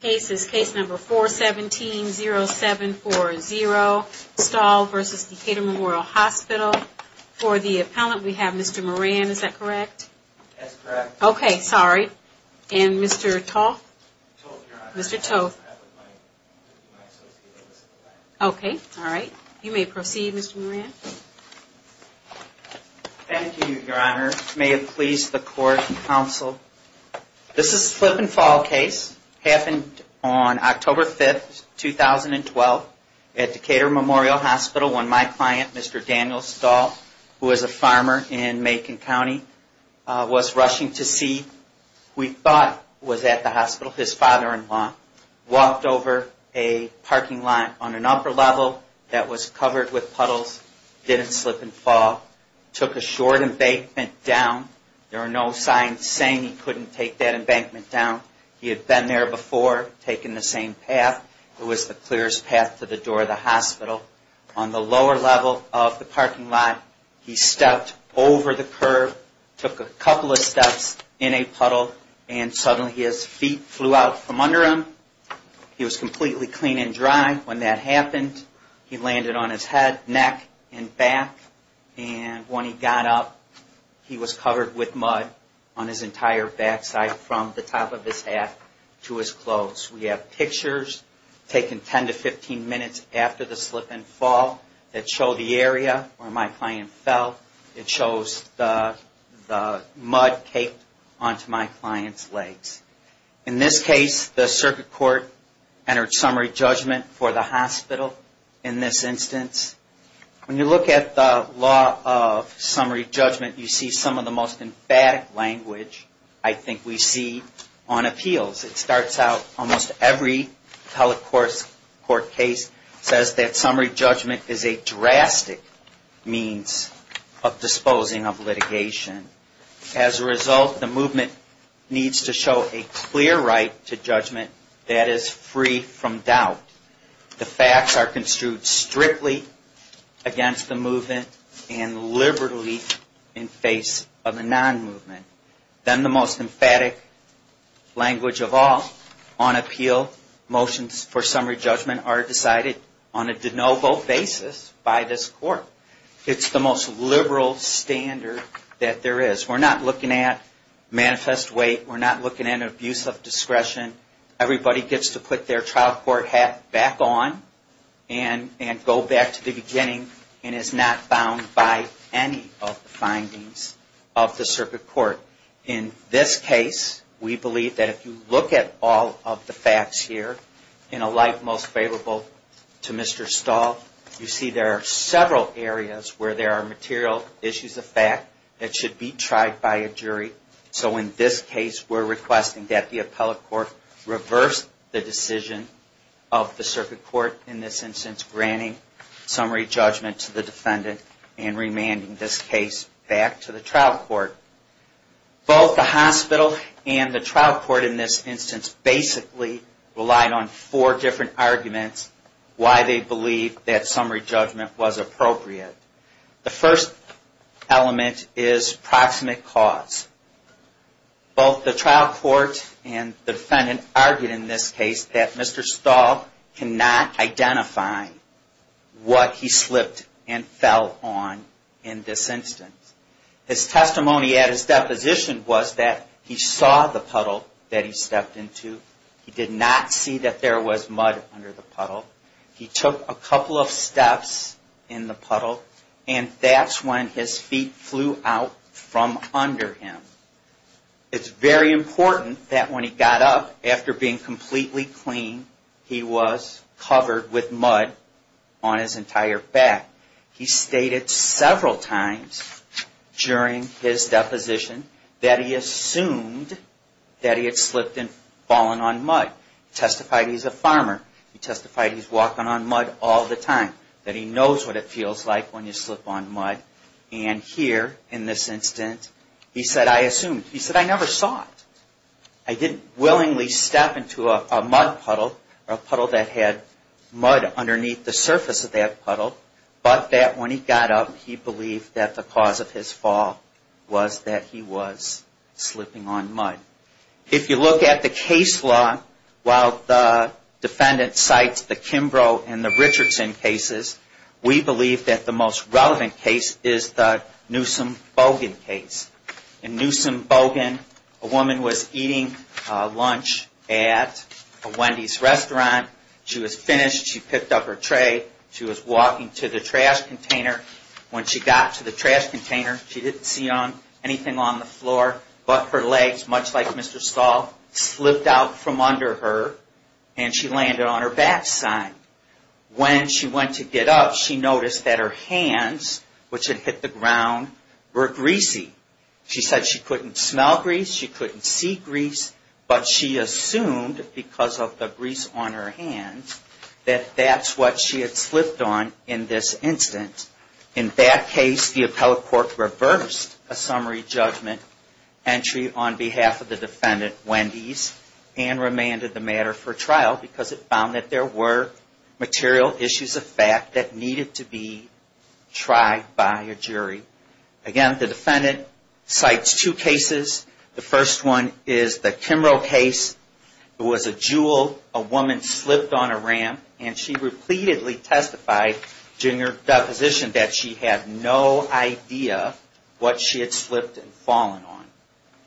Case number 417-0740, Stahl v. Decatur Memorial Hospital. For the appellant, we have Mr. Moran, is that correct? That's correct. Okay, sorry. And Mr. Toth? Toth, Your Honor. Mr. Toth. I have with my associates. Okay, all right. You may proceed, Mr. Moran. Thank you, Your Honor. May it please the Court and Counsel. This is a slip and fall case. Happened on October 5th, 2012 at Decatur Memorial Hospital when my client, Mr. Daniel Stahl, who is a farmer in Macon County, was rushing to see who he thought was at the hospital. His father-in-law walked over a parking lot on an upper level that was covered with puddles, didn't slip and fall, took a short embankment down. There were no signs saying he couldn't take that embankment down. He had been there before, taken the same path. It was the clearest path to the door of the hospital. On the lower level of the parking lot, he stepped over the curb, took a couple of steps in a puddle, and suddenly his feet flew out from under him. He was completely clean and dry. When that happened, he landed on his head, neck, and back. When he got up, he was covered with mud on his entire backside from the top of his hat to his clothes. We have pictures taken 10 to 15 minutes after the slip and fall that show the area where my client fell. It shows the mud caked onto my client's legs. In this case, the circuit court entered summary judgment for the hospital in this instance. When you look at the law of summary judgment, you see some of the most emphatic language I think we see on appeals. It starts out, almost every telecourt case says that summary judgment is a drastic means of disposing of litigation. As a result, the movement needs to show a clear right to judgment that is free from doubt. The facts are construed strictly against the movement and liberally in face of a non-movement. Then the most emphatic language of all, on appeal, motions for summary judgment are decided on a de novo basis by this court. It's the most liberal standard that there is. We're not looking at manifest weight. We're not looking at abuse of discretion. Everybody gets to put their trial court hat back on and go back to the beginning and is not bound by any of the findings of the circuit court. In this case, we believe that if you look at all of the facts here, in a light most favorable to Mr. Stahl, you see there are several areas where there are material issues So in this case, we're requesting that the appellate court reverse the decision of the circuit court, in this instance, granting summary judgment to the defendant and remanding this case back to the trial court. Both the hospital and the trial court, in this instance, basically relied on four different arguments why they believe that summary judgment was appropriate. The first element is proximate cause. Both the trial court and the defendant argued in this case that Mr. Stahl cannot identify what he slipped and fell on in this instance. His testimony at his deposition was that he saw the puddle that he stepped into. He did not see that there was mud under the puddle. He took a couple of steps in the puddle and that's when his feet flew out from under him. It's very important that when he got up, after being completely clean, he was covered with mud on his entire back. He stated several times during his deposition that he assumed that he had slipped and fallen Testified he's a farmer. He testified he's walking on mud all the time, that he knows what it feels like when you slip on mud. And here, in this instance, he said, I assumed. He said, I never saw it. I didn't willingly step into a mud puddle or a puddle that had mud underneath the surface of that puddle, but that when he got up, he believed that the cause of his fall was that he was slipping on mud. If you look at the case law, while the defendant cites the Kimbrough and the Richardson cases, we believe that the most relevant case is the Newsom-Bogan case. In Newsom-Bogan, a woman was eating lunch at a Wendy's restaurant. She was finished. She picked up her tray. She was walking to the trash container. When she got to the trash container, she didn't see anything on the floor but her legs, much like Mr. Stahl, slipped out from under her and she landed on her backside. When she went to get up, she noticed that her hands, which had hit the ground, were greasy. She said she couldn't smell grease. She couldn't see grease. But she assumed, because of the grease on her hands, that that's what she had slipped on in this instance. In that case, the appellate court reversed a summary judgment entry on behalf of the defendant, Wendy's, and remanded the matter for trial because it found that there were material issues of fact that needed to be tried by a jury. Again, the defendant cites two cases. The first one is the Kimbrough case. It was a jewel. A woman slipped on a ramp and she repeatedly testified during her deposition that she had no idea what she had slipped and fallen on.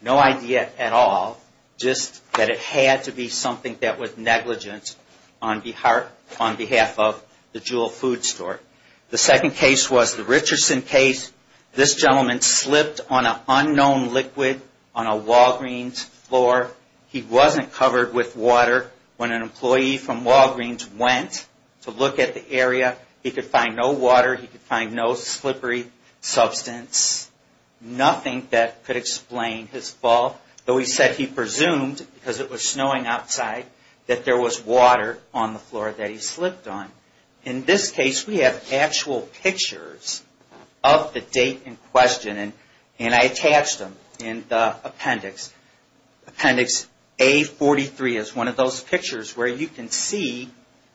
No idea at all. Just that it had to be something that was negligent on behalf of the Jewel food store. The second case was the Richardson case. This gentleman slipped on an unknown liquid on a Walgreens floor. He wasn't covered with water. When an employee from Walgreens went to look at the area, he could find no water. He could find no slippery substance. Nothing that could explain his fall, though he said he presumed, because it was snowing outside, that there was water on the floor that he slipped on. In this case, we have actual pictures of the date in question, and I attached them in the appendix. Appendix A43 is one of those pictures where you can see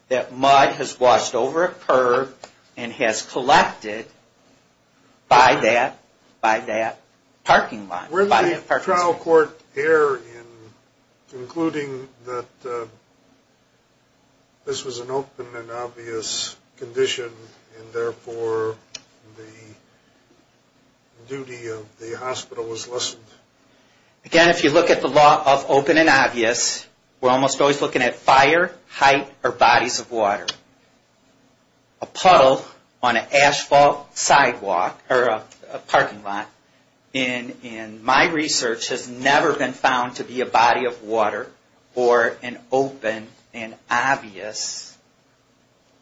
that mud has washed over a curb and has collected by that parking lot. Where did the trial court err in concluding that this was an open and obvious condition and therefore the duty of the hospital was lessened? Again, if you look at the law of open and obvious, we're almost always looking at fire, height, or bodies of water. A puddle on an asphalt sidewalk or a parking lot, in my research, has never been found to be a body of water or an open and obvious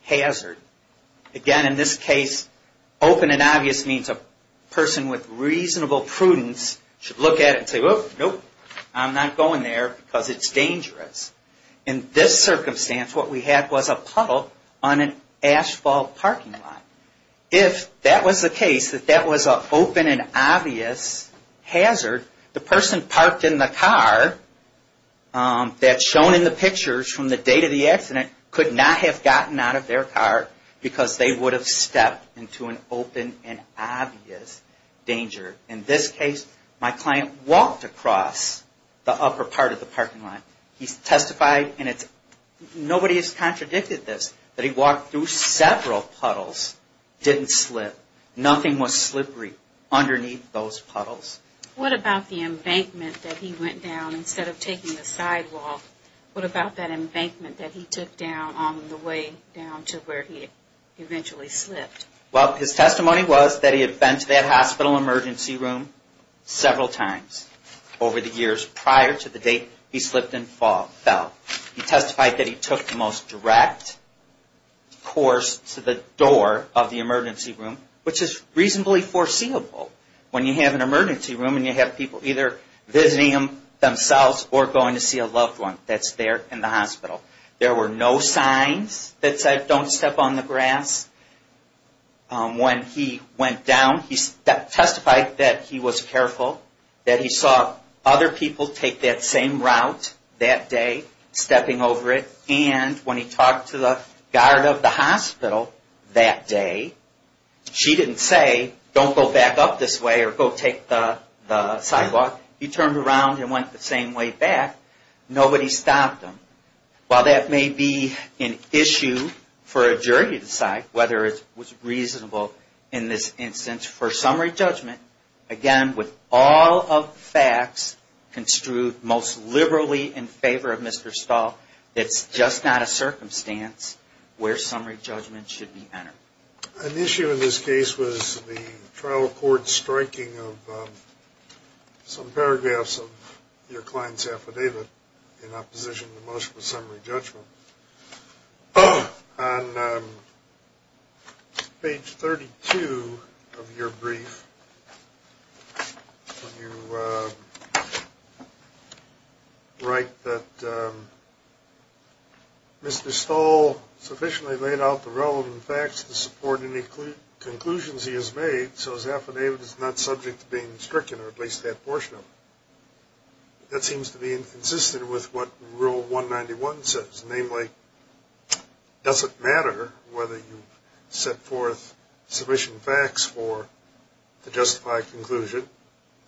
hazard. Again, in this case, open and obvious means a person with reasonable prudence should look at it and say, nope, I'm not going there because it's dangerous. In this circumstance, what we had was a puddle on an asphalt parking lot. If that was the case, that that was an open and obvious hazard, the person parked in the car that's shown in the pictures from the date of the accident could not have gotten out of their car because they would have stepped into an open and obvious danger. In this case, my client walked across the upper part of the parking lot. He testified, and nobody has contradicted this, that he walked through several puddles, didn't slip, nothing was slippery underneath those puddles. What about the embankment that he went down instead of taking the sidewalk? What about that embankment that he took down on the way down to where he eventually slipped? Well, his testimony was that he had been to that hospital emergency room several times over the years prior to the date he slipped and fell. He testified that he took the most direct course to the door of the emergency room, which is reasonably foreseeable when you have an emergency room and you have people either visiting them themselves or going to see a loved one that's there in the hospital. There were no signs that said, don't step on the grass. When he went down, he testified that he was careful, that he saw other people take that same route that day, stepping over it, and when he talked to the guard of the hospital that day, she didn't say, don't go back up this way or go take the sidewalk. He turned around and went the same way back. Nobody stopped him. While that may be an issue for a jury to decide whether it was reasonable in this instance for summary judgment, again, with all of the facts construed most liberally in favor of Mr. Stahl, it's just not a circumstance where summary judgment should be entered. An issue in this case was the trial court striking of some paragraphs of your client's affidavit in opposition to most of the summary judgment. On page 32 of your brief, when you write that Mr. Stahl sufficiently laid out the relevant facts to support any conclusions he has made so his affidavit is not subject to being stricken or at least that portion of it, that seems to be inconsistent with what Rule 191 says. Namely, it doesn't matter whether you set forth sufficient facts to justify a conclusion.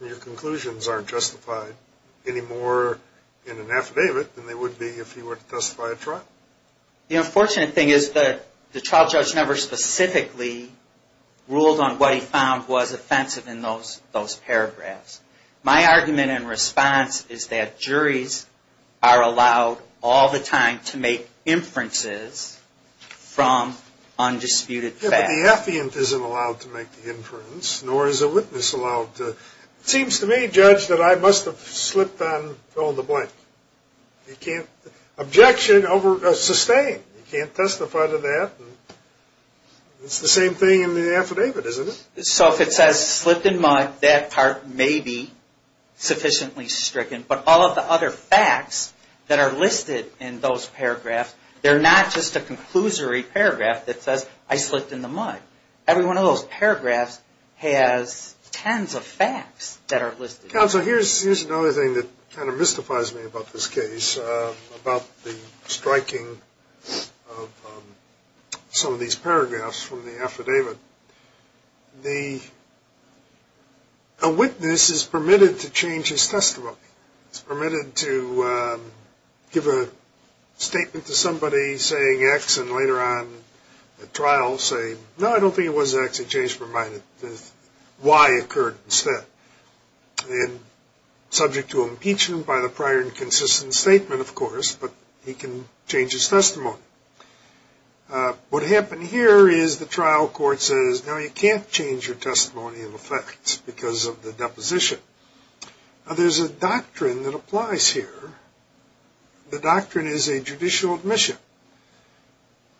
Your conclusions aren't justified any more in an affidavit than they would be if you were to testify at trial. The unfortunate thing is that the trial judge never specifically ruled on what he found was offensive in those paragraphs. My argument and response is that juries are allowed all the time to make inferences from undisputed facts. But the affiant isn't allowed to make the inference, nor is a witness allowed to. It seems to me, Judge, that I must have slipped on fill in the blank. Objection over sustained. You can't testify to that. It's the same thing in the affidavit, isn't it? So if it says slipped in mud, that part may be sufficiently stricken. But all of the other facts that are listed in those paragraphs, they're not just a conclusory paragraph that says I slipped in the mud. Every one of those paragraphs has tens of facts that are listed. Counsel, here's another thing that kind of mystifies me about this case, about the striking of some of these paragraphs from the affidavit. The witness is permitted to change his testimony. He's permitted to give a statement to somebody saying X and later on at trial say, no, I don't think it was X, it changed my mind. Y occurred instead. And subject to impeachment by the prior inconsistent statement, of course, but he can change his testimony. What happened here is the trial court says, no, you can't change your testimony of the facts because of the deposition. There's a doctrine that applies here. The doctrine is a judicial admission.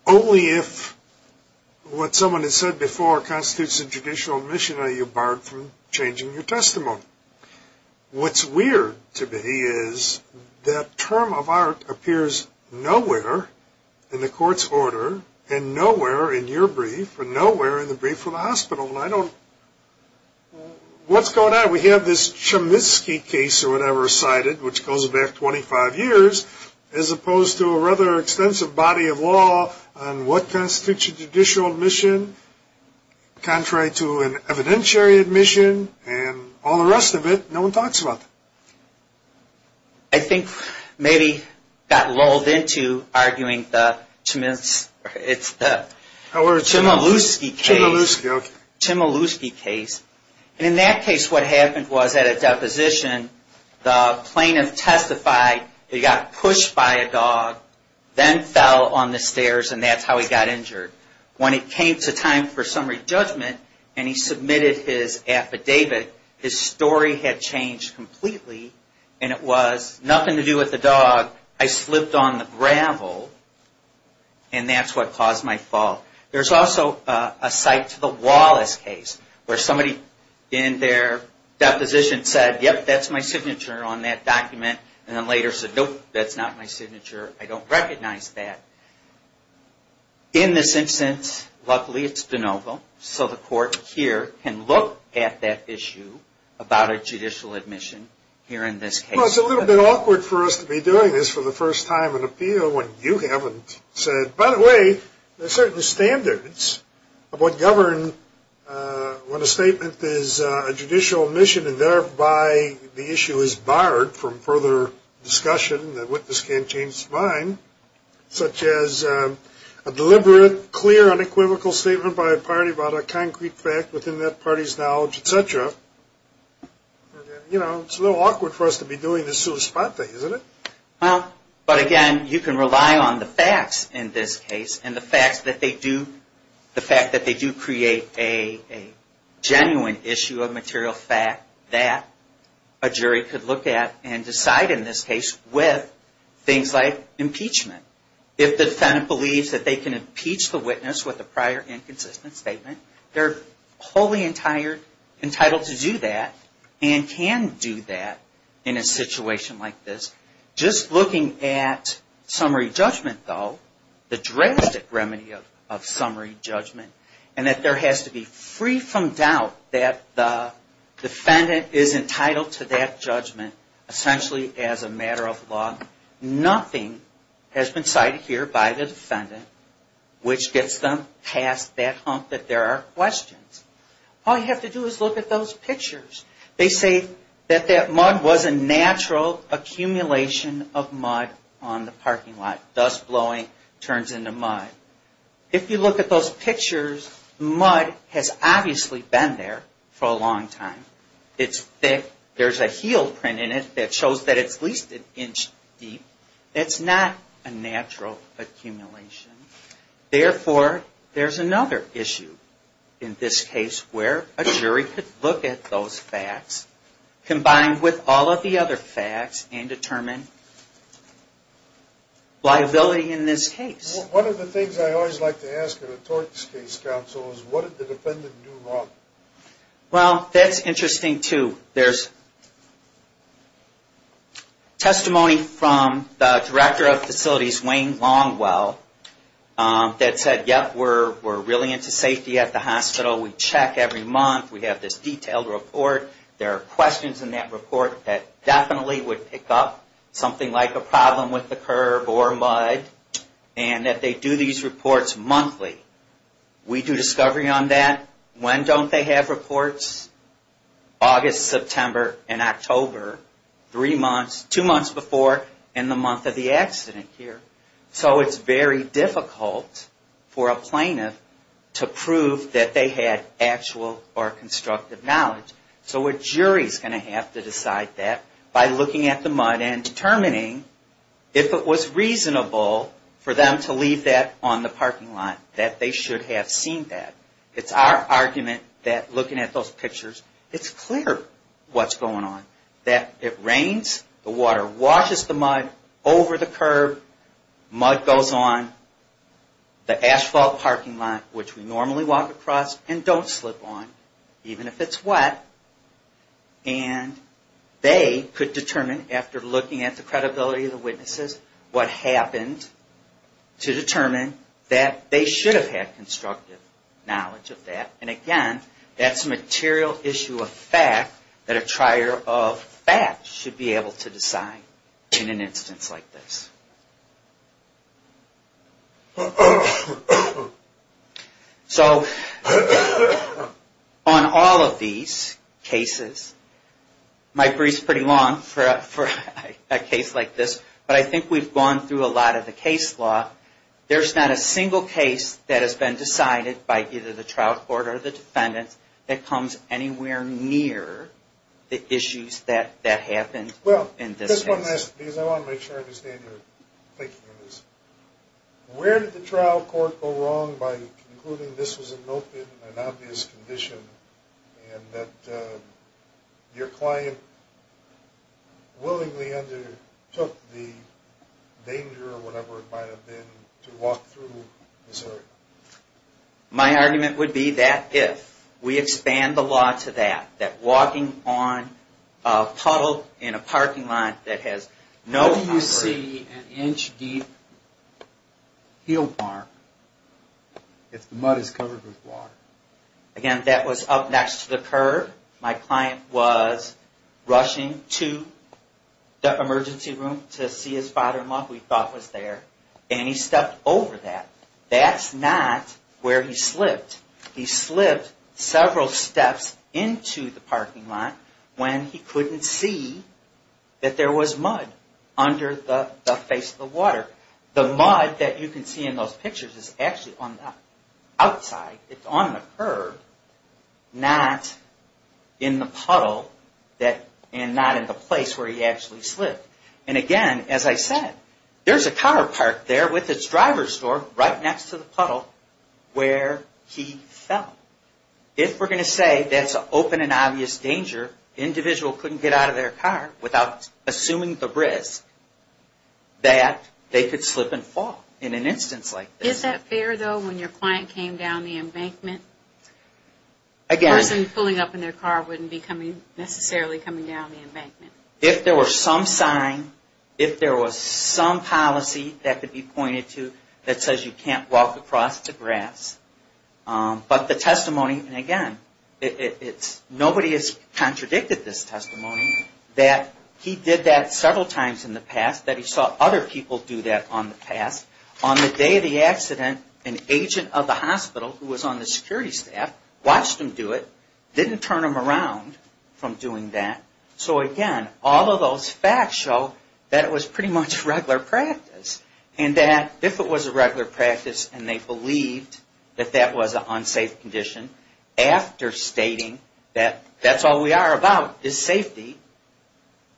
Only if what someone has said before constitutes a judicial admission are you barred from changing your testimony. What's weird to me is that term of art appears nowhere in the court's order and nowhere in your brief and nowhere in the brief of the hospital. I don't, what's going on? We have this Chemiskey case or whatever cited which goes back 25 years as a case of body of law on what constitutes a judicial admission contrary to an evidentiary admission and all the rest of it, no one talks about that. I think maybe got lulled into arguing the Chemiskey, it's the Chemiluskey case. Chemiluskey, okay. Chemiluskey case. And in that case what happened was at a deposition the plaintiff testified he got pushed by a dog, then fell on the stairs and that's how he got injured. When it came to time for summary judgment and he submitted his affidavit, his story had changed completely and it was nothing to do with the dog, I slipped on the gravel and that's what caused my fall. There's also a site to the Wallace case where somebody in their deposition said yep, that's my signature on that document and then later said nope, that's not my signature, I don't recognize that. In this instance, luckily it's de novo so the court here can look at that issue about a judicial admission here in this case. Well, it's a little bit awkward for us to be doing this for the first time in appeal when you haven't said, by the way, there's certain standards of what to govern when a statement is a judicial admission and thereby the issue is barred from further discussion, the witness can't change his mind, such as a deliberate, clear, unequivocal statement by a party about a concrete fact within that party's knowledge, etc. You know, it's a little awkward for us to be doing this sort of spot thing, isn't it? Well, but again, you can rely on the facts in this case and the facts that they do create a genuine issue of material fact that a jury could look at and decide in this case with things like impeachment. If the defendant believes that they can impeach the witness with a prior inconsistent statement, they're wholly entitled to do that and can do that in a situation like this. Just looking at summary judgment, though, the drastic remedy of summary judgment and that there has to be free from doubt that the defendant is entitled to that judgment essentially as a matter of law. Nothing has been cited here by the defendant which gets them past that hump that there are questions. All you have to do is look at those pictures. They say that that mud was a natural accumulation of mud on the parking lot. Dust blowing turns into mud. If you look at those pictures, mud has obviously been there for a long time. It's thick. There's a heel print in it that shows that it's at least an inch deep. It's not a natural accumulation. Therefore, there's another issue in this case where a jury could look at those facts combined with all of the other facts and determine liability in this case. One of the things I always like to ask in a tort case, counsel, is what did the defendant do wrong? Well, that's interesting, too. There's testimony from the director of facilities, Wayne Longwell, that said, yep, we're really into safety at the hospital. We check every month. We have this detailed report. There are questions in that report that definitely would pick up something like a problem with the curb or mud and that they do these reports monthly. We do discovery on that. When don't they have reports? August, September, and October, three months, two months before and the month of the accident here. So it's very difficult for a plaintiff to prove that they had actual or constructive knowledge. So a jury's going to have to decide that by looking at the mud and determining if it was reasonable for them to leave that on the parking lot, that they should have seen that. It's our argument that looking at those pictures, it's clear what's going on, that it rains, the water washes the mud over the curb, mud goes on the asphalt parking lot, which we normally walk across and don't slip on, even if it's wet, and they could determine, after looking at the credibility of the witnesses, what happened to determine that they should have had constructive knowledge of that. And again, that's a material issue of fact that a trier of facts should be able to decide in an instance like this. So on all of these cases, my brief's pretty long for a case like this, but I think we've gone through a lot of the case law. There's not a single case that has been decided by either the trial court or the defendant that comes anywhere near the issues that happened in this case. Well, just one last, because I want to make sure I understand your thinking on this. Where did the trial court go wrong by concluding this was an open and obvious condition, and that your client willingly undertook the danger, or whatever it might have been, to walk through this area? My argument would be that if. We expand the law to that, that walking on a puddle in a parking lot that has no deep heel mark, if the mud is covered with water. Again, that was up next to the curb. My client was rushing to the emergency room to see his father-in-law, who he thought was there, and he stepped over that. That's not where he slipped. He slipped several steps into the parking lot when he couldn't see that there was water. The mud that you can see in those pictures is actually on the outside. It's on the curb, not in the puddle, and not in the place where he actually slipped. Again, as I said, there's a car parked there with its driver's door right next to the puddle where he fell. If we're going to say that's an open and obvious danger, the individual couldn't get out of their car without assuming the risk that they could slip and fall in an instance like this. Is that fair, though, when your client came down the embankment, the person pulling up in their car wouldn't necessarily be coming down the embankment? If there was some sign, if there was some policy that could be pointed to that says you can't walk across the grass. But the testimony, and again, nobody has contradicted this testimony that he did that several times in the past, that he saw other people do that on the past. On the day of the accident, an agent of the hospital who was on the security staff watched him do it, didn't turn him around from doing that. So again, all of those facts show that it was pretty much regular practice. And that if it was a regular practice and they believed that that was an unsafe condition, after stating that that's all we are about is safety,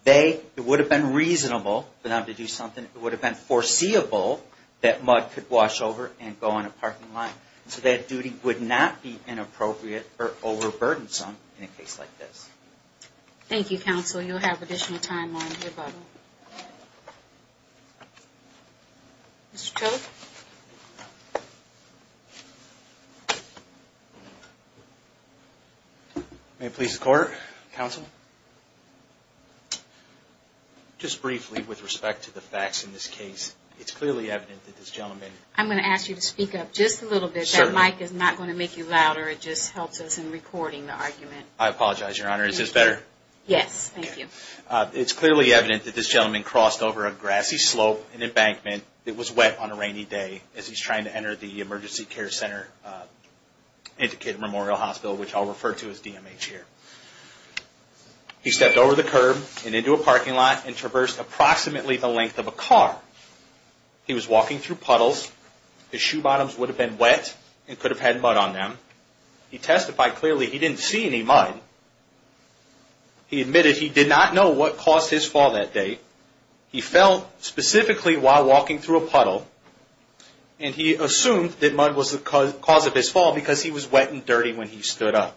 it would have been reasonable for them to do something, it would have been foreseeable that mud could wash over and go on a parking lot. So that duty would not be inappropriate or overburdensome in a case like this. Thank you, Counsel. You'll have additional time on your button. Mr. Cooke? May it please the Court? Counsel? Just briefly with respect to the facts in this case, it's clearly evident that this gentleman... I'm going to ask you to speak up just a little bit. Certainly. That mic is not going to make you louder. It just helps us in recording the argument. I apologize, Your Honor. Is this better? Yes. Thank you. It's clearly evident that this gentleman crossed over a grassy slope, an embankment. It was wet on a rainy day as he's trying to enter the emergency care center at the Kid Memorial Hospital, which I'll refer to as DMH here. He stepped over the curb and into a parking lot and traversed approximately the length of a car. He was walking through puddles. His shoe bottoms would have been wet and could have had mud on them. He testified clearly he didn't see any mud. He admitted he did not know what caused his fall that day. He fell specifically while walking through a puddle, and he assumed that mud was the cause of his fall because he was wet and dirty when he stood up.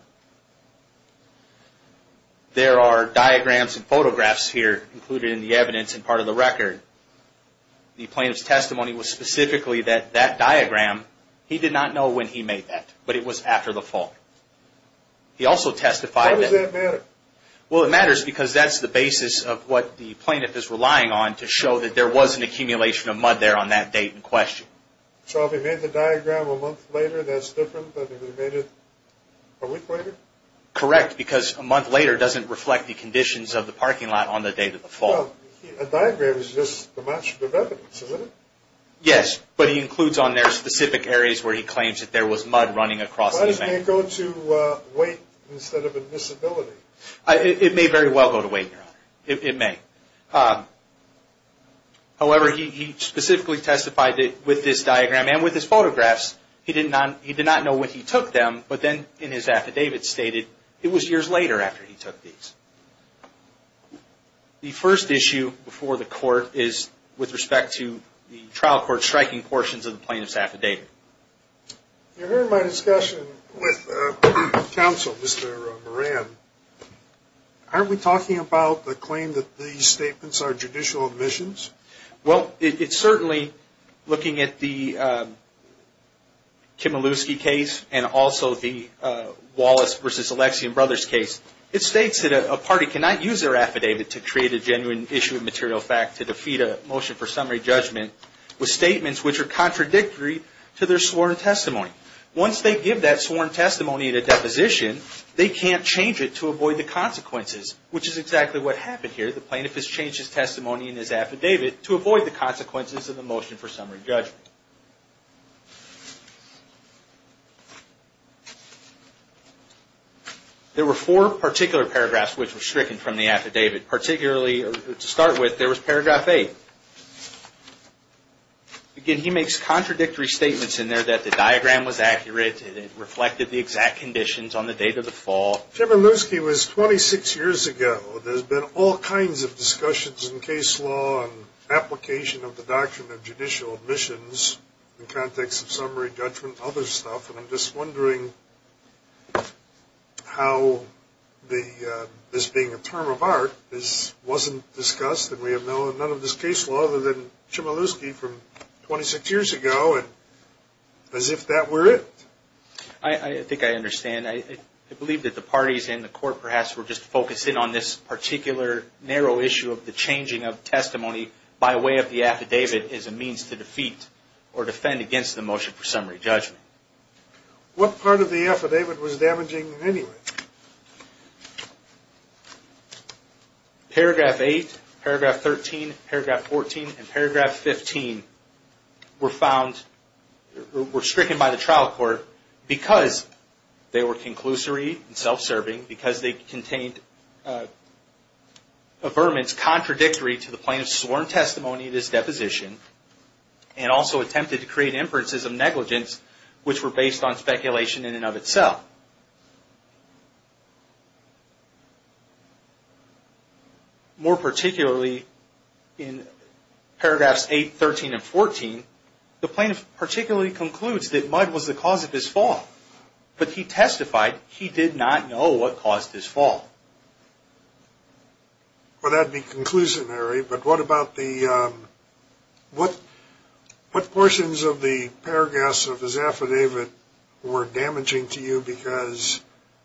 There are diagrams and photographs here included in the evidence and part of the record. The plaintiff's testimony was specifically that that diagram, he did not know when he made that, but it was after the fall. He also testified that... Why does that matter? Well, it matters because that's the basis of what the plaintiff is relying on to show that there was an accumulation of mud there on that date in question. So if he made the diagram a month later, that's different than if he made it a week later? Correct, because a month later doesn't reflect the conditions of the parking lot on the day of the fall. Well, a diagram is just a match of evidence, isn't it? Yes, but he includes on there specific areas where he claims that there was mud running across the event. Why did it go to weight instead of admissibility? It may very well go to weight, Your Honor. It may. However, he specifically testified that with this diagram and with his photographs, he did not know when he took them, but then in his affidavit stated it was years later after he took these. The first issue before the court is with respect to the trial court striking portions of the plaintiff's affidavit. Your Honor, in my discussion with counsel, Mr. Moran, aren't we talking about the claim that these statements are judicial admissions? Well, it's certainly looking at the Kimelewski case and also the Wallace v. Alexian Brothers case. It states that a party cannot use their affidavit to create a genuine issue of material fact to defeat a motion for summary judgment with statements which are contradictory to their sworn testimony. Once they give that sworn testimony in a deposition, they can't change it to avoid the consequences, which is exactly what happened here. The plaintiff has changed his testimony in his affidavit to avoid the consequences of the motion for summary judgment. There were four particular paragraphs which were stricken from the affidavit. Particularly, to start with, there was paragraph 8. Again, he makes contradictory statements in there that the diagram was accurate, it reflected the exact conditions on the date of the fall. Kimelewski was 26 years ago. There's been all kinds of discussions in case law and application of the doctrine of judicial admissions in context of summary judgment and other issues. I'm just wondering how this being a term of art, this wasn't discussed and we have none of this case law other than Kimelewski from 26 years ago and as if that were it. I think I understand. I believe that the parties in the court perhaps were just focusing on this particular narrow issue of the changing of testimony by way of the affidavit as a means to defeat or defend against the motion for summary judgment. What part of the affidavit was damaging in any way? Paragraph 8, paragraph 13, paragraph 14, and paragraph 15 were found, were stricken by the trial court because they were conclusory and self-serving, because they contained affirmance contradictory to the plaintiff's sworn testimony of this deposition and also attempted to create inferences of negligence which were based on speculation in and of itself. More particularly in paragraphs 8, 13, and 14, the plaintiff particularly concludes that Mudd was the cause of his fall, but he testified he did not know what caused his fall. Well, that would be conclusionary, but what about the, what portions of the paragraphs of his affidavit were damaging to you because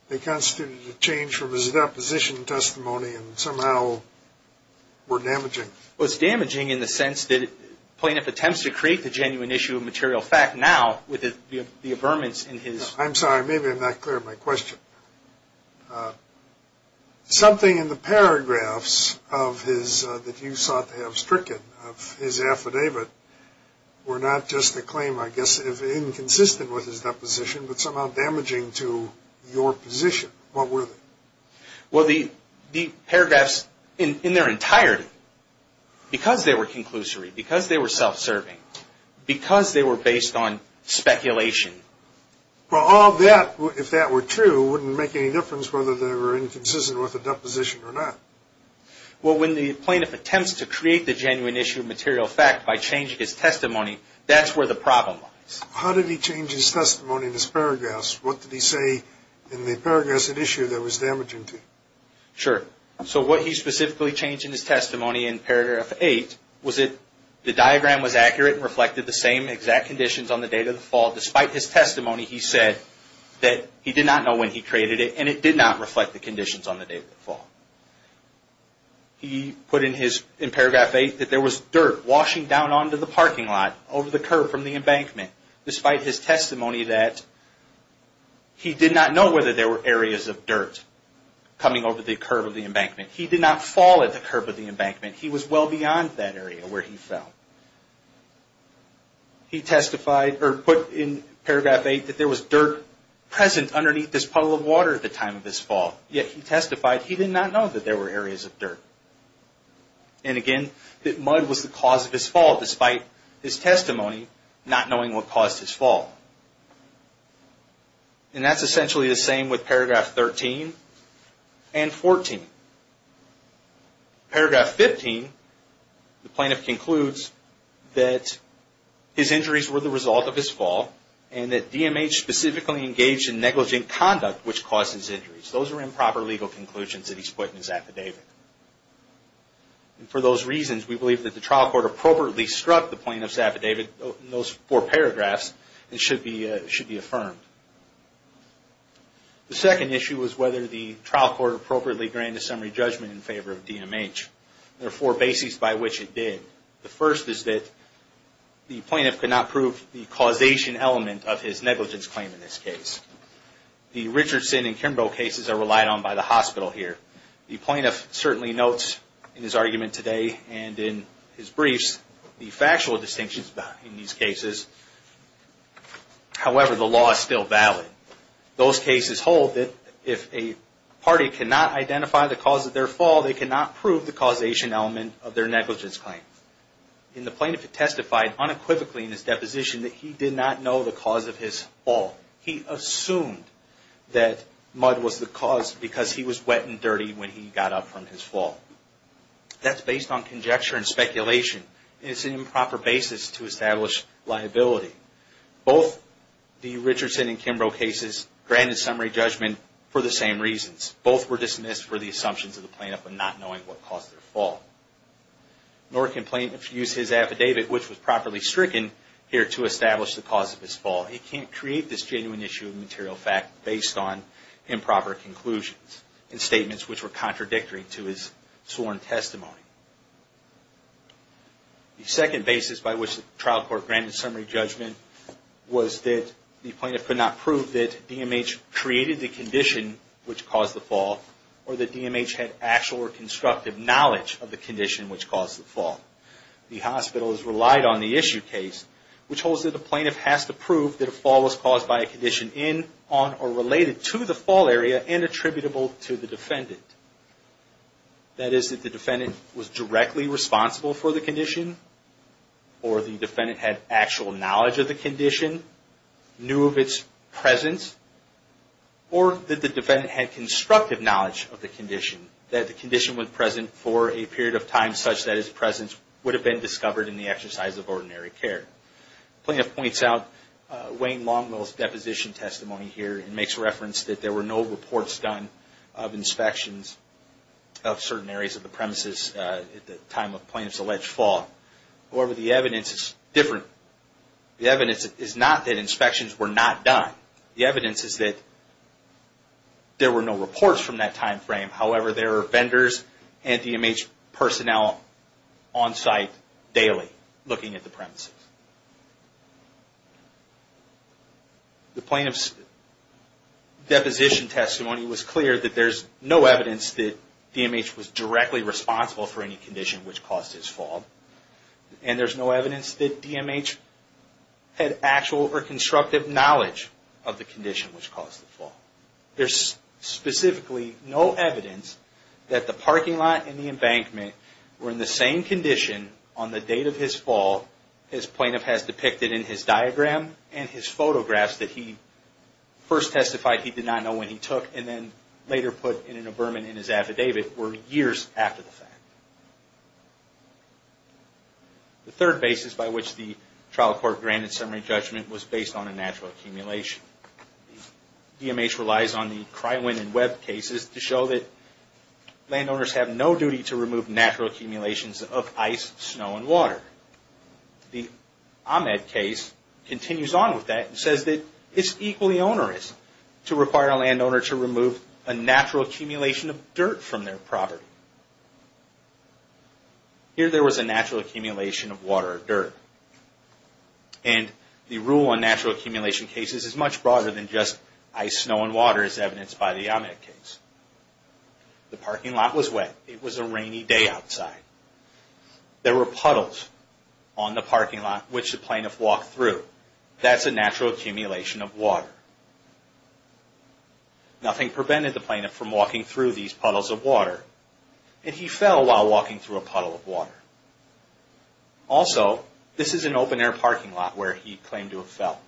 they constituted a change from his deposition testimony and somehow were damaging? Well, it's damaging in the sense that the plaintiff attempts to create the genuine issue of material fact now with the affirmance in his... I'm sorry, maybe I'm not clear on my question. Something in the paragraphs of his, that you sought to have stricken of his affidavit were not just a claim, I guess, inconsistent with his deposition, but somehow damaging to your position. What were they? Well, the paragraphs in their entirety, because they were conclusory, because they were self-serving, because they were based on speculation. Well, all that, if that were true, wouldn't make any difference whether they were inconsistent with the deposition or not. Well, when the plaintiff attempts to create the genuine issue of material fact by changing his testimony, that's where the problem lies. How did he change his testimony in his paragraphs? What did he say in the paragraphs of the issue that was damaging to you? Sure. So what he specifically changed in his testimony in paragraph 8 was that the diagram was accurate and reflected the same exact conditions on the date of the fall. In his testimony, he said that he did not know when he created it and it did not reflect the conditions on the day of the fall. He put in paragraph 8 that there was dirt washing down onto the parking lot over the curb from the embankment, despite his testimony that he did not know whether there were areas of dirt coming over the curb of the embankment. He did not fall at the curb of the embankment. He was well beyond that area where he fell. He testified, or put in paragraph 8, that there was dirt present underneath this puddle of water at the time of his fall, yet he testified he did not know that there were areas of dirt. And again, that mud was the cause of his fall, despite his testimony not knowing what caused his fall. And that's essentially the same with paragraph 13 and 14. Paragraph 15, the plaintiff concludes that his injuries were the result of his fall and that DMH specifically engaged in negligent conduct which caused his injuries. Those are improper legal conclusions that he's put in his affidavit. And for those reasons, we believe that the trial court appropriately struck the plaintiff's affidavit in those four paragraphs and should be affirmed. The second issue was whether the trial court appropriately granted summary judgment in favor of DMH. There are four bases by which it did. The first is that the plaintiff could not prove the causation element of his negligence claim in this case. The Richardson and Kimbrough cases are relied on by the hospital here. The plaintiff certainly notes in his argument today and in his briefs the factual distinctions in these cases. However, the law is still valid. Those cases hold that if a party cannot identify the cause of their fall, they cannot prove the causation element of their negligence claim. And the plaintiff testified unequivocally in his deposition that he did not know the cause of his fall. He assumed that mud was the cause because he was wet and dirty when he got up That's based on conjecture and speculation. It's an improper basis to establish liability. Both the Richardson and Kimbrough cases granted summary judgment for the same reasons. Both were dismissed for the assumptions of the plaintiff of not knowing what caused their fall. Nor can plaintiff use his affidavit, which was properly stricken, here to establish the cause of his fall. He can't create this genuine issue of material fact based on improper conclusions and statements which were contradictory to his sworn testimony. The second basis by which the trial court granted summary judgment was that the plaintiff could not prove that DMH created the condition which caused the fall or that DMH had actual or constructive knowledge of the condition which caused the fall. The hospital has relied on the issue case, which holds that the plaintiff has to prove that a fall was caused by a condition in, on, or related to the fall area and attributable to the defendant. That is, that the defendant was directly responsible for the condition, or the defendant had actual knowledge of the condition, knew of its presence, or that the defendant had constructive knowledge of the condition, that the condition was present for a period of time such that its presence would have been discovered in the exercise of ordinary care. The plaintiff points out Wayne Longwell's deposition testimony here and makes reference that there were no reports done of inspections of certain areas of the premises at the time of plaintiff's alleged fall. However, the evidence is different. The evidence is not that inspections were not done. The evidence is that there were no reports from that time frame. However, there are vendors and DMH personnel on site daily looking at the premises. The plaintiff's deposition testimony was clear that there's no evidence that DMH was directly responsible for any condition which caused his fall, and there's no evidence that DMH had actual or constructive knowledge of the condition which caused the fall. There's specifically no evidence that the parking lot and the embankment were in the same condition on the date of his fall, as plaintiff has depicted in his diagram and his photographs that he first testified he did not know when he took, and then later put in a vermin in his affidavit, were years after the fact. The third basis by which the trial court granted summary judgment was based on a natural accumulation. DMH relies on the Krywin and Webb cases to show that landowners have no duty to the accumulations of ice, snow, and water. The Ahmed case continues on with that and says that it's equally onerous to require a landowner to remove a natural accumulation of dirt from their property. Here there was a natural accumulation of water or dirt, and the rule on natural accumulation cases is much broader than just ice, snow, and water as evidenced by the Ahmed case. The parking lot was wet. It was a rainy day outside. There were puddles on the parking lot which the plaintiff walked through. That's a natural accumulation of water. Nothing prevented the plaintiff from walking through these puddles of water, and he fell while walking through a puddle of water. Also, this is an open-air parking lot where he claimed to have fell.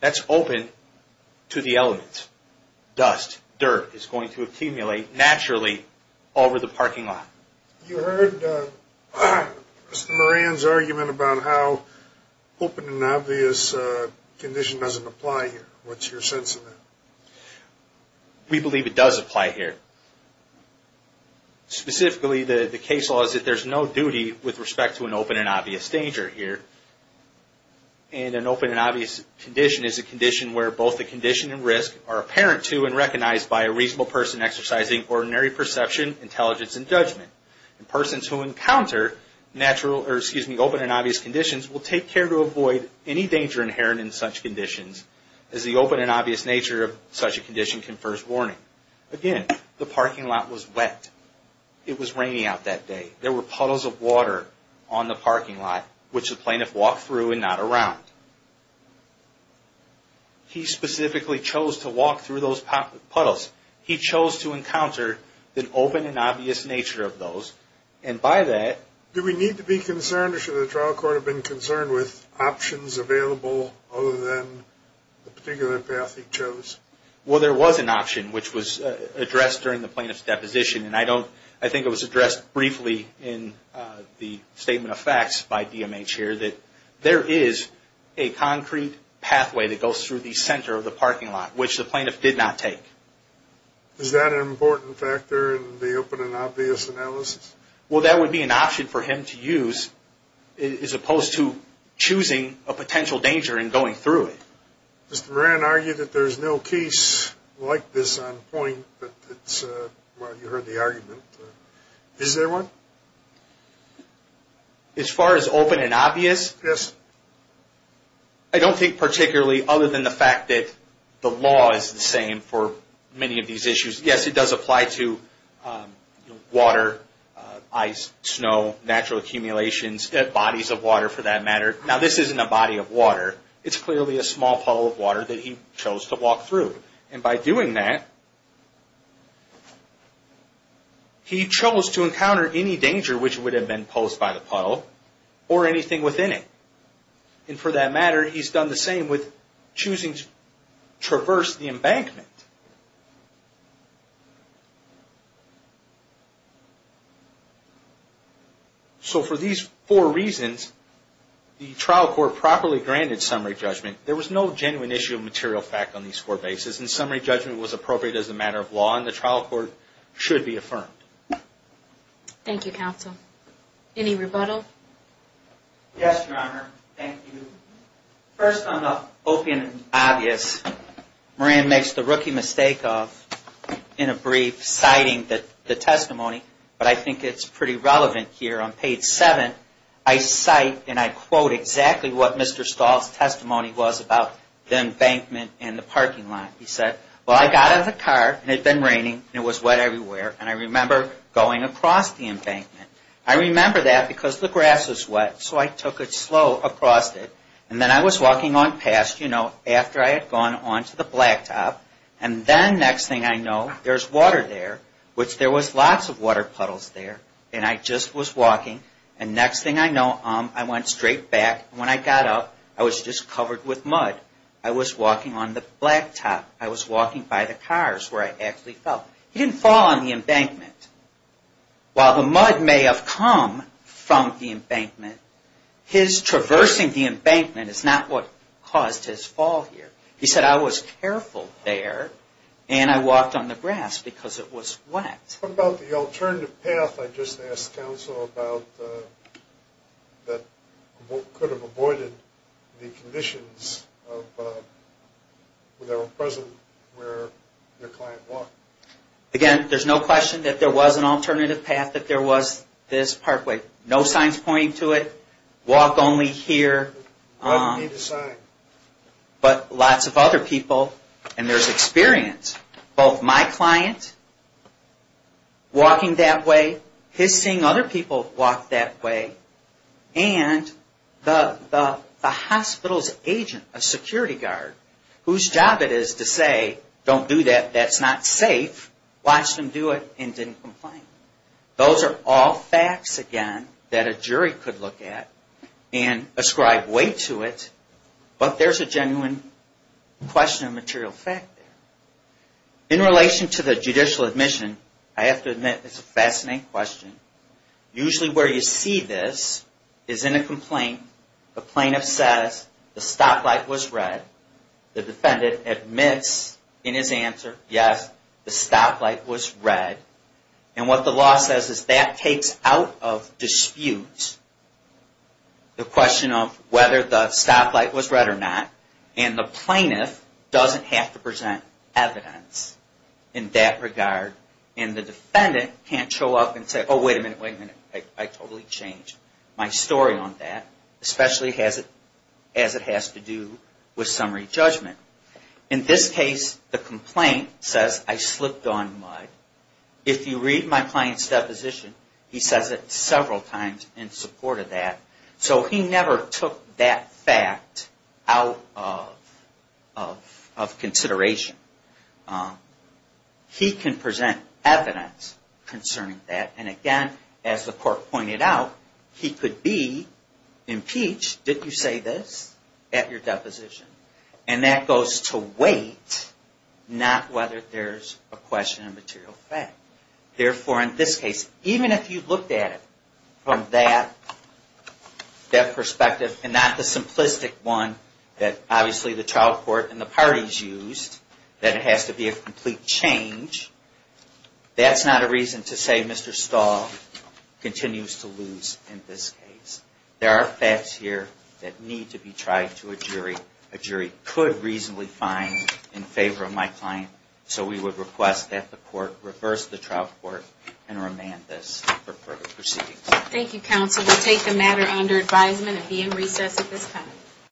That's open to the elements. Dust, dirt is going to accumulate naturally over the parking lot. You heard Mr. Moran's argument about how open and obvious condition doesn't apply here. What's your sense of that? We believe it does apply here. Specifically, the case law is that there's no duty with respect to an open and obvious danger here. An open and obvious condition is a condition where both the condition and risk are apparent to and recognized by a reasonable person exercising ordinary perception, intelligence, and judgment. Persons who encounter natural or open and obvious conditions will take care to avoid any danger inherent in such conditions as the open and obvious nature of such a condition confers warning. Again, the parking lot was wet. It was rainy out that day. There were puddles of water on the parking lot, which the plaintiff walked through and not around. He specifically chose to walk through those puddles. He chose to encounter the open and obvious nature of those, and by that... Do we need to be concerned or should the trial court have been concerned with options available other than the particular path he chose? Well, there was an option, which was addressed during the plaintiff's address briefly in the statement of facts by DMH here, that there is a concrete pathway that goes through the center of the parking lot, which the plaintiff did not take. Is that an important factor in the open and obvious analysis? Well, that would be an option for him to use, as opposed to choosing a potential danger and going through it. Mr. Moran argued that there's no case like this on point, but you heard the argument. Is there one? As far as open and obvious? Yes. I don't think particularly, other than the fact that the law is the same for many of these issues. Yes, it does apply to water, ice, snow, natural accumulations, bodies of water for that matter. Now, this isn't a body of water. It's clearly a small puddle of water that he chose to walk through. And by doing that, he chose to encounter any danger, which would have been posed by the puddle, or anything within it. And for that matter, he's done the same with choosing to traverse the embankment. So for these four reasons, the trial court properly granted summary judgment. There was no genuine issue of material fact on these four bases, and summary judgment was appropriate as a matter of law, and the trial court should be affirmed. Thank you, counsel. Any rebuttal? Yes, Your Honor. Thank you. First, on the open and obvious, Moran makes the rookie mistake of, in a brief, citing the testimony. But I think it's pretty relevant here. On page 7, I cite and I quote exactly what Mr. Stahl's testimony was about the embankment and the parking lot. He said, well, I got out of the car, and it had been raining, and it was wet everywhere, and I remember going across the embankment. I remember that because the grass was wet, so I took it slow across it. And then I was walking on past, you know, after I had gone on to the blacktop, and then next thing I know, there's water there, which there was lots of water puddles there. And I just was walking, and next thing I know, I went straight back. When I got up, I was just covered with mud. I was walking on the blacktop. I was walking by the cars where I actually fell. He didn't fall on the embankment. While the mud may have come from the embankment, his traversing the embankment is not what caused his fall here. He said, I was careful there, and I walked on the grass because it was wet. What about the alternative path I just asked counsel about that could have avoided the conditions that were present where your client walked? Again, there's no question that there was an alternative path, that there was this parkway. No signs pointing to it. Walk only here. But lots of other people, and there's experience. Both my client walking that way, his seeing other people walk that way, and the hospital's agent, a security guard, whose job it is to say, don't do that, that's not safe. Watch them do it, and didn't complain. Those are all facts, again, that a jury could look at and ascribe weight to it, but there's a genuine question of material fact there. In relation to the judicial admission, I have to admit, it's a fascinating question. Usually where you see this is in a complaint, the plaintiff says, the stoplight was red. The defendant admits in his answer, yes, the stoplight was red. And what the law says is that takes out of dispute the question of whether the stoplight was red or not, and the plaintiff doesn't have to present evidence in that regard, and the defendant can't show up and say, oh, wait a minute, wait a minute, I totally changed my story on that, especially as it has to do with summary judgment. In this case, the complaint says, I slipped on mud. If you read my client's deposition, he says it several times in support of that. So he never took that fact out of consideration. He can present evidence concerning that, and again, as the court pointed out, he could be impeached, did you say this, at your deposition. And that goes to weight, not whether there's a question of material fact. Therefore, in this case, even if you looked at it from that perspective, and not the simplistic one that obviously the trial court and the parties used, that it has to be a complete change, that's not a reason to say Mr. Stahl continues to lose in this case. There are facts here that need to be tried to a jury. A jury could reasonably find in favor of my client, so we would request that the court reverse the trial court and remand this for further proceedings. Thank you, counsel. We'll take the matter under advisement and be in recess at this time.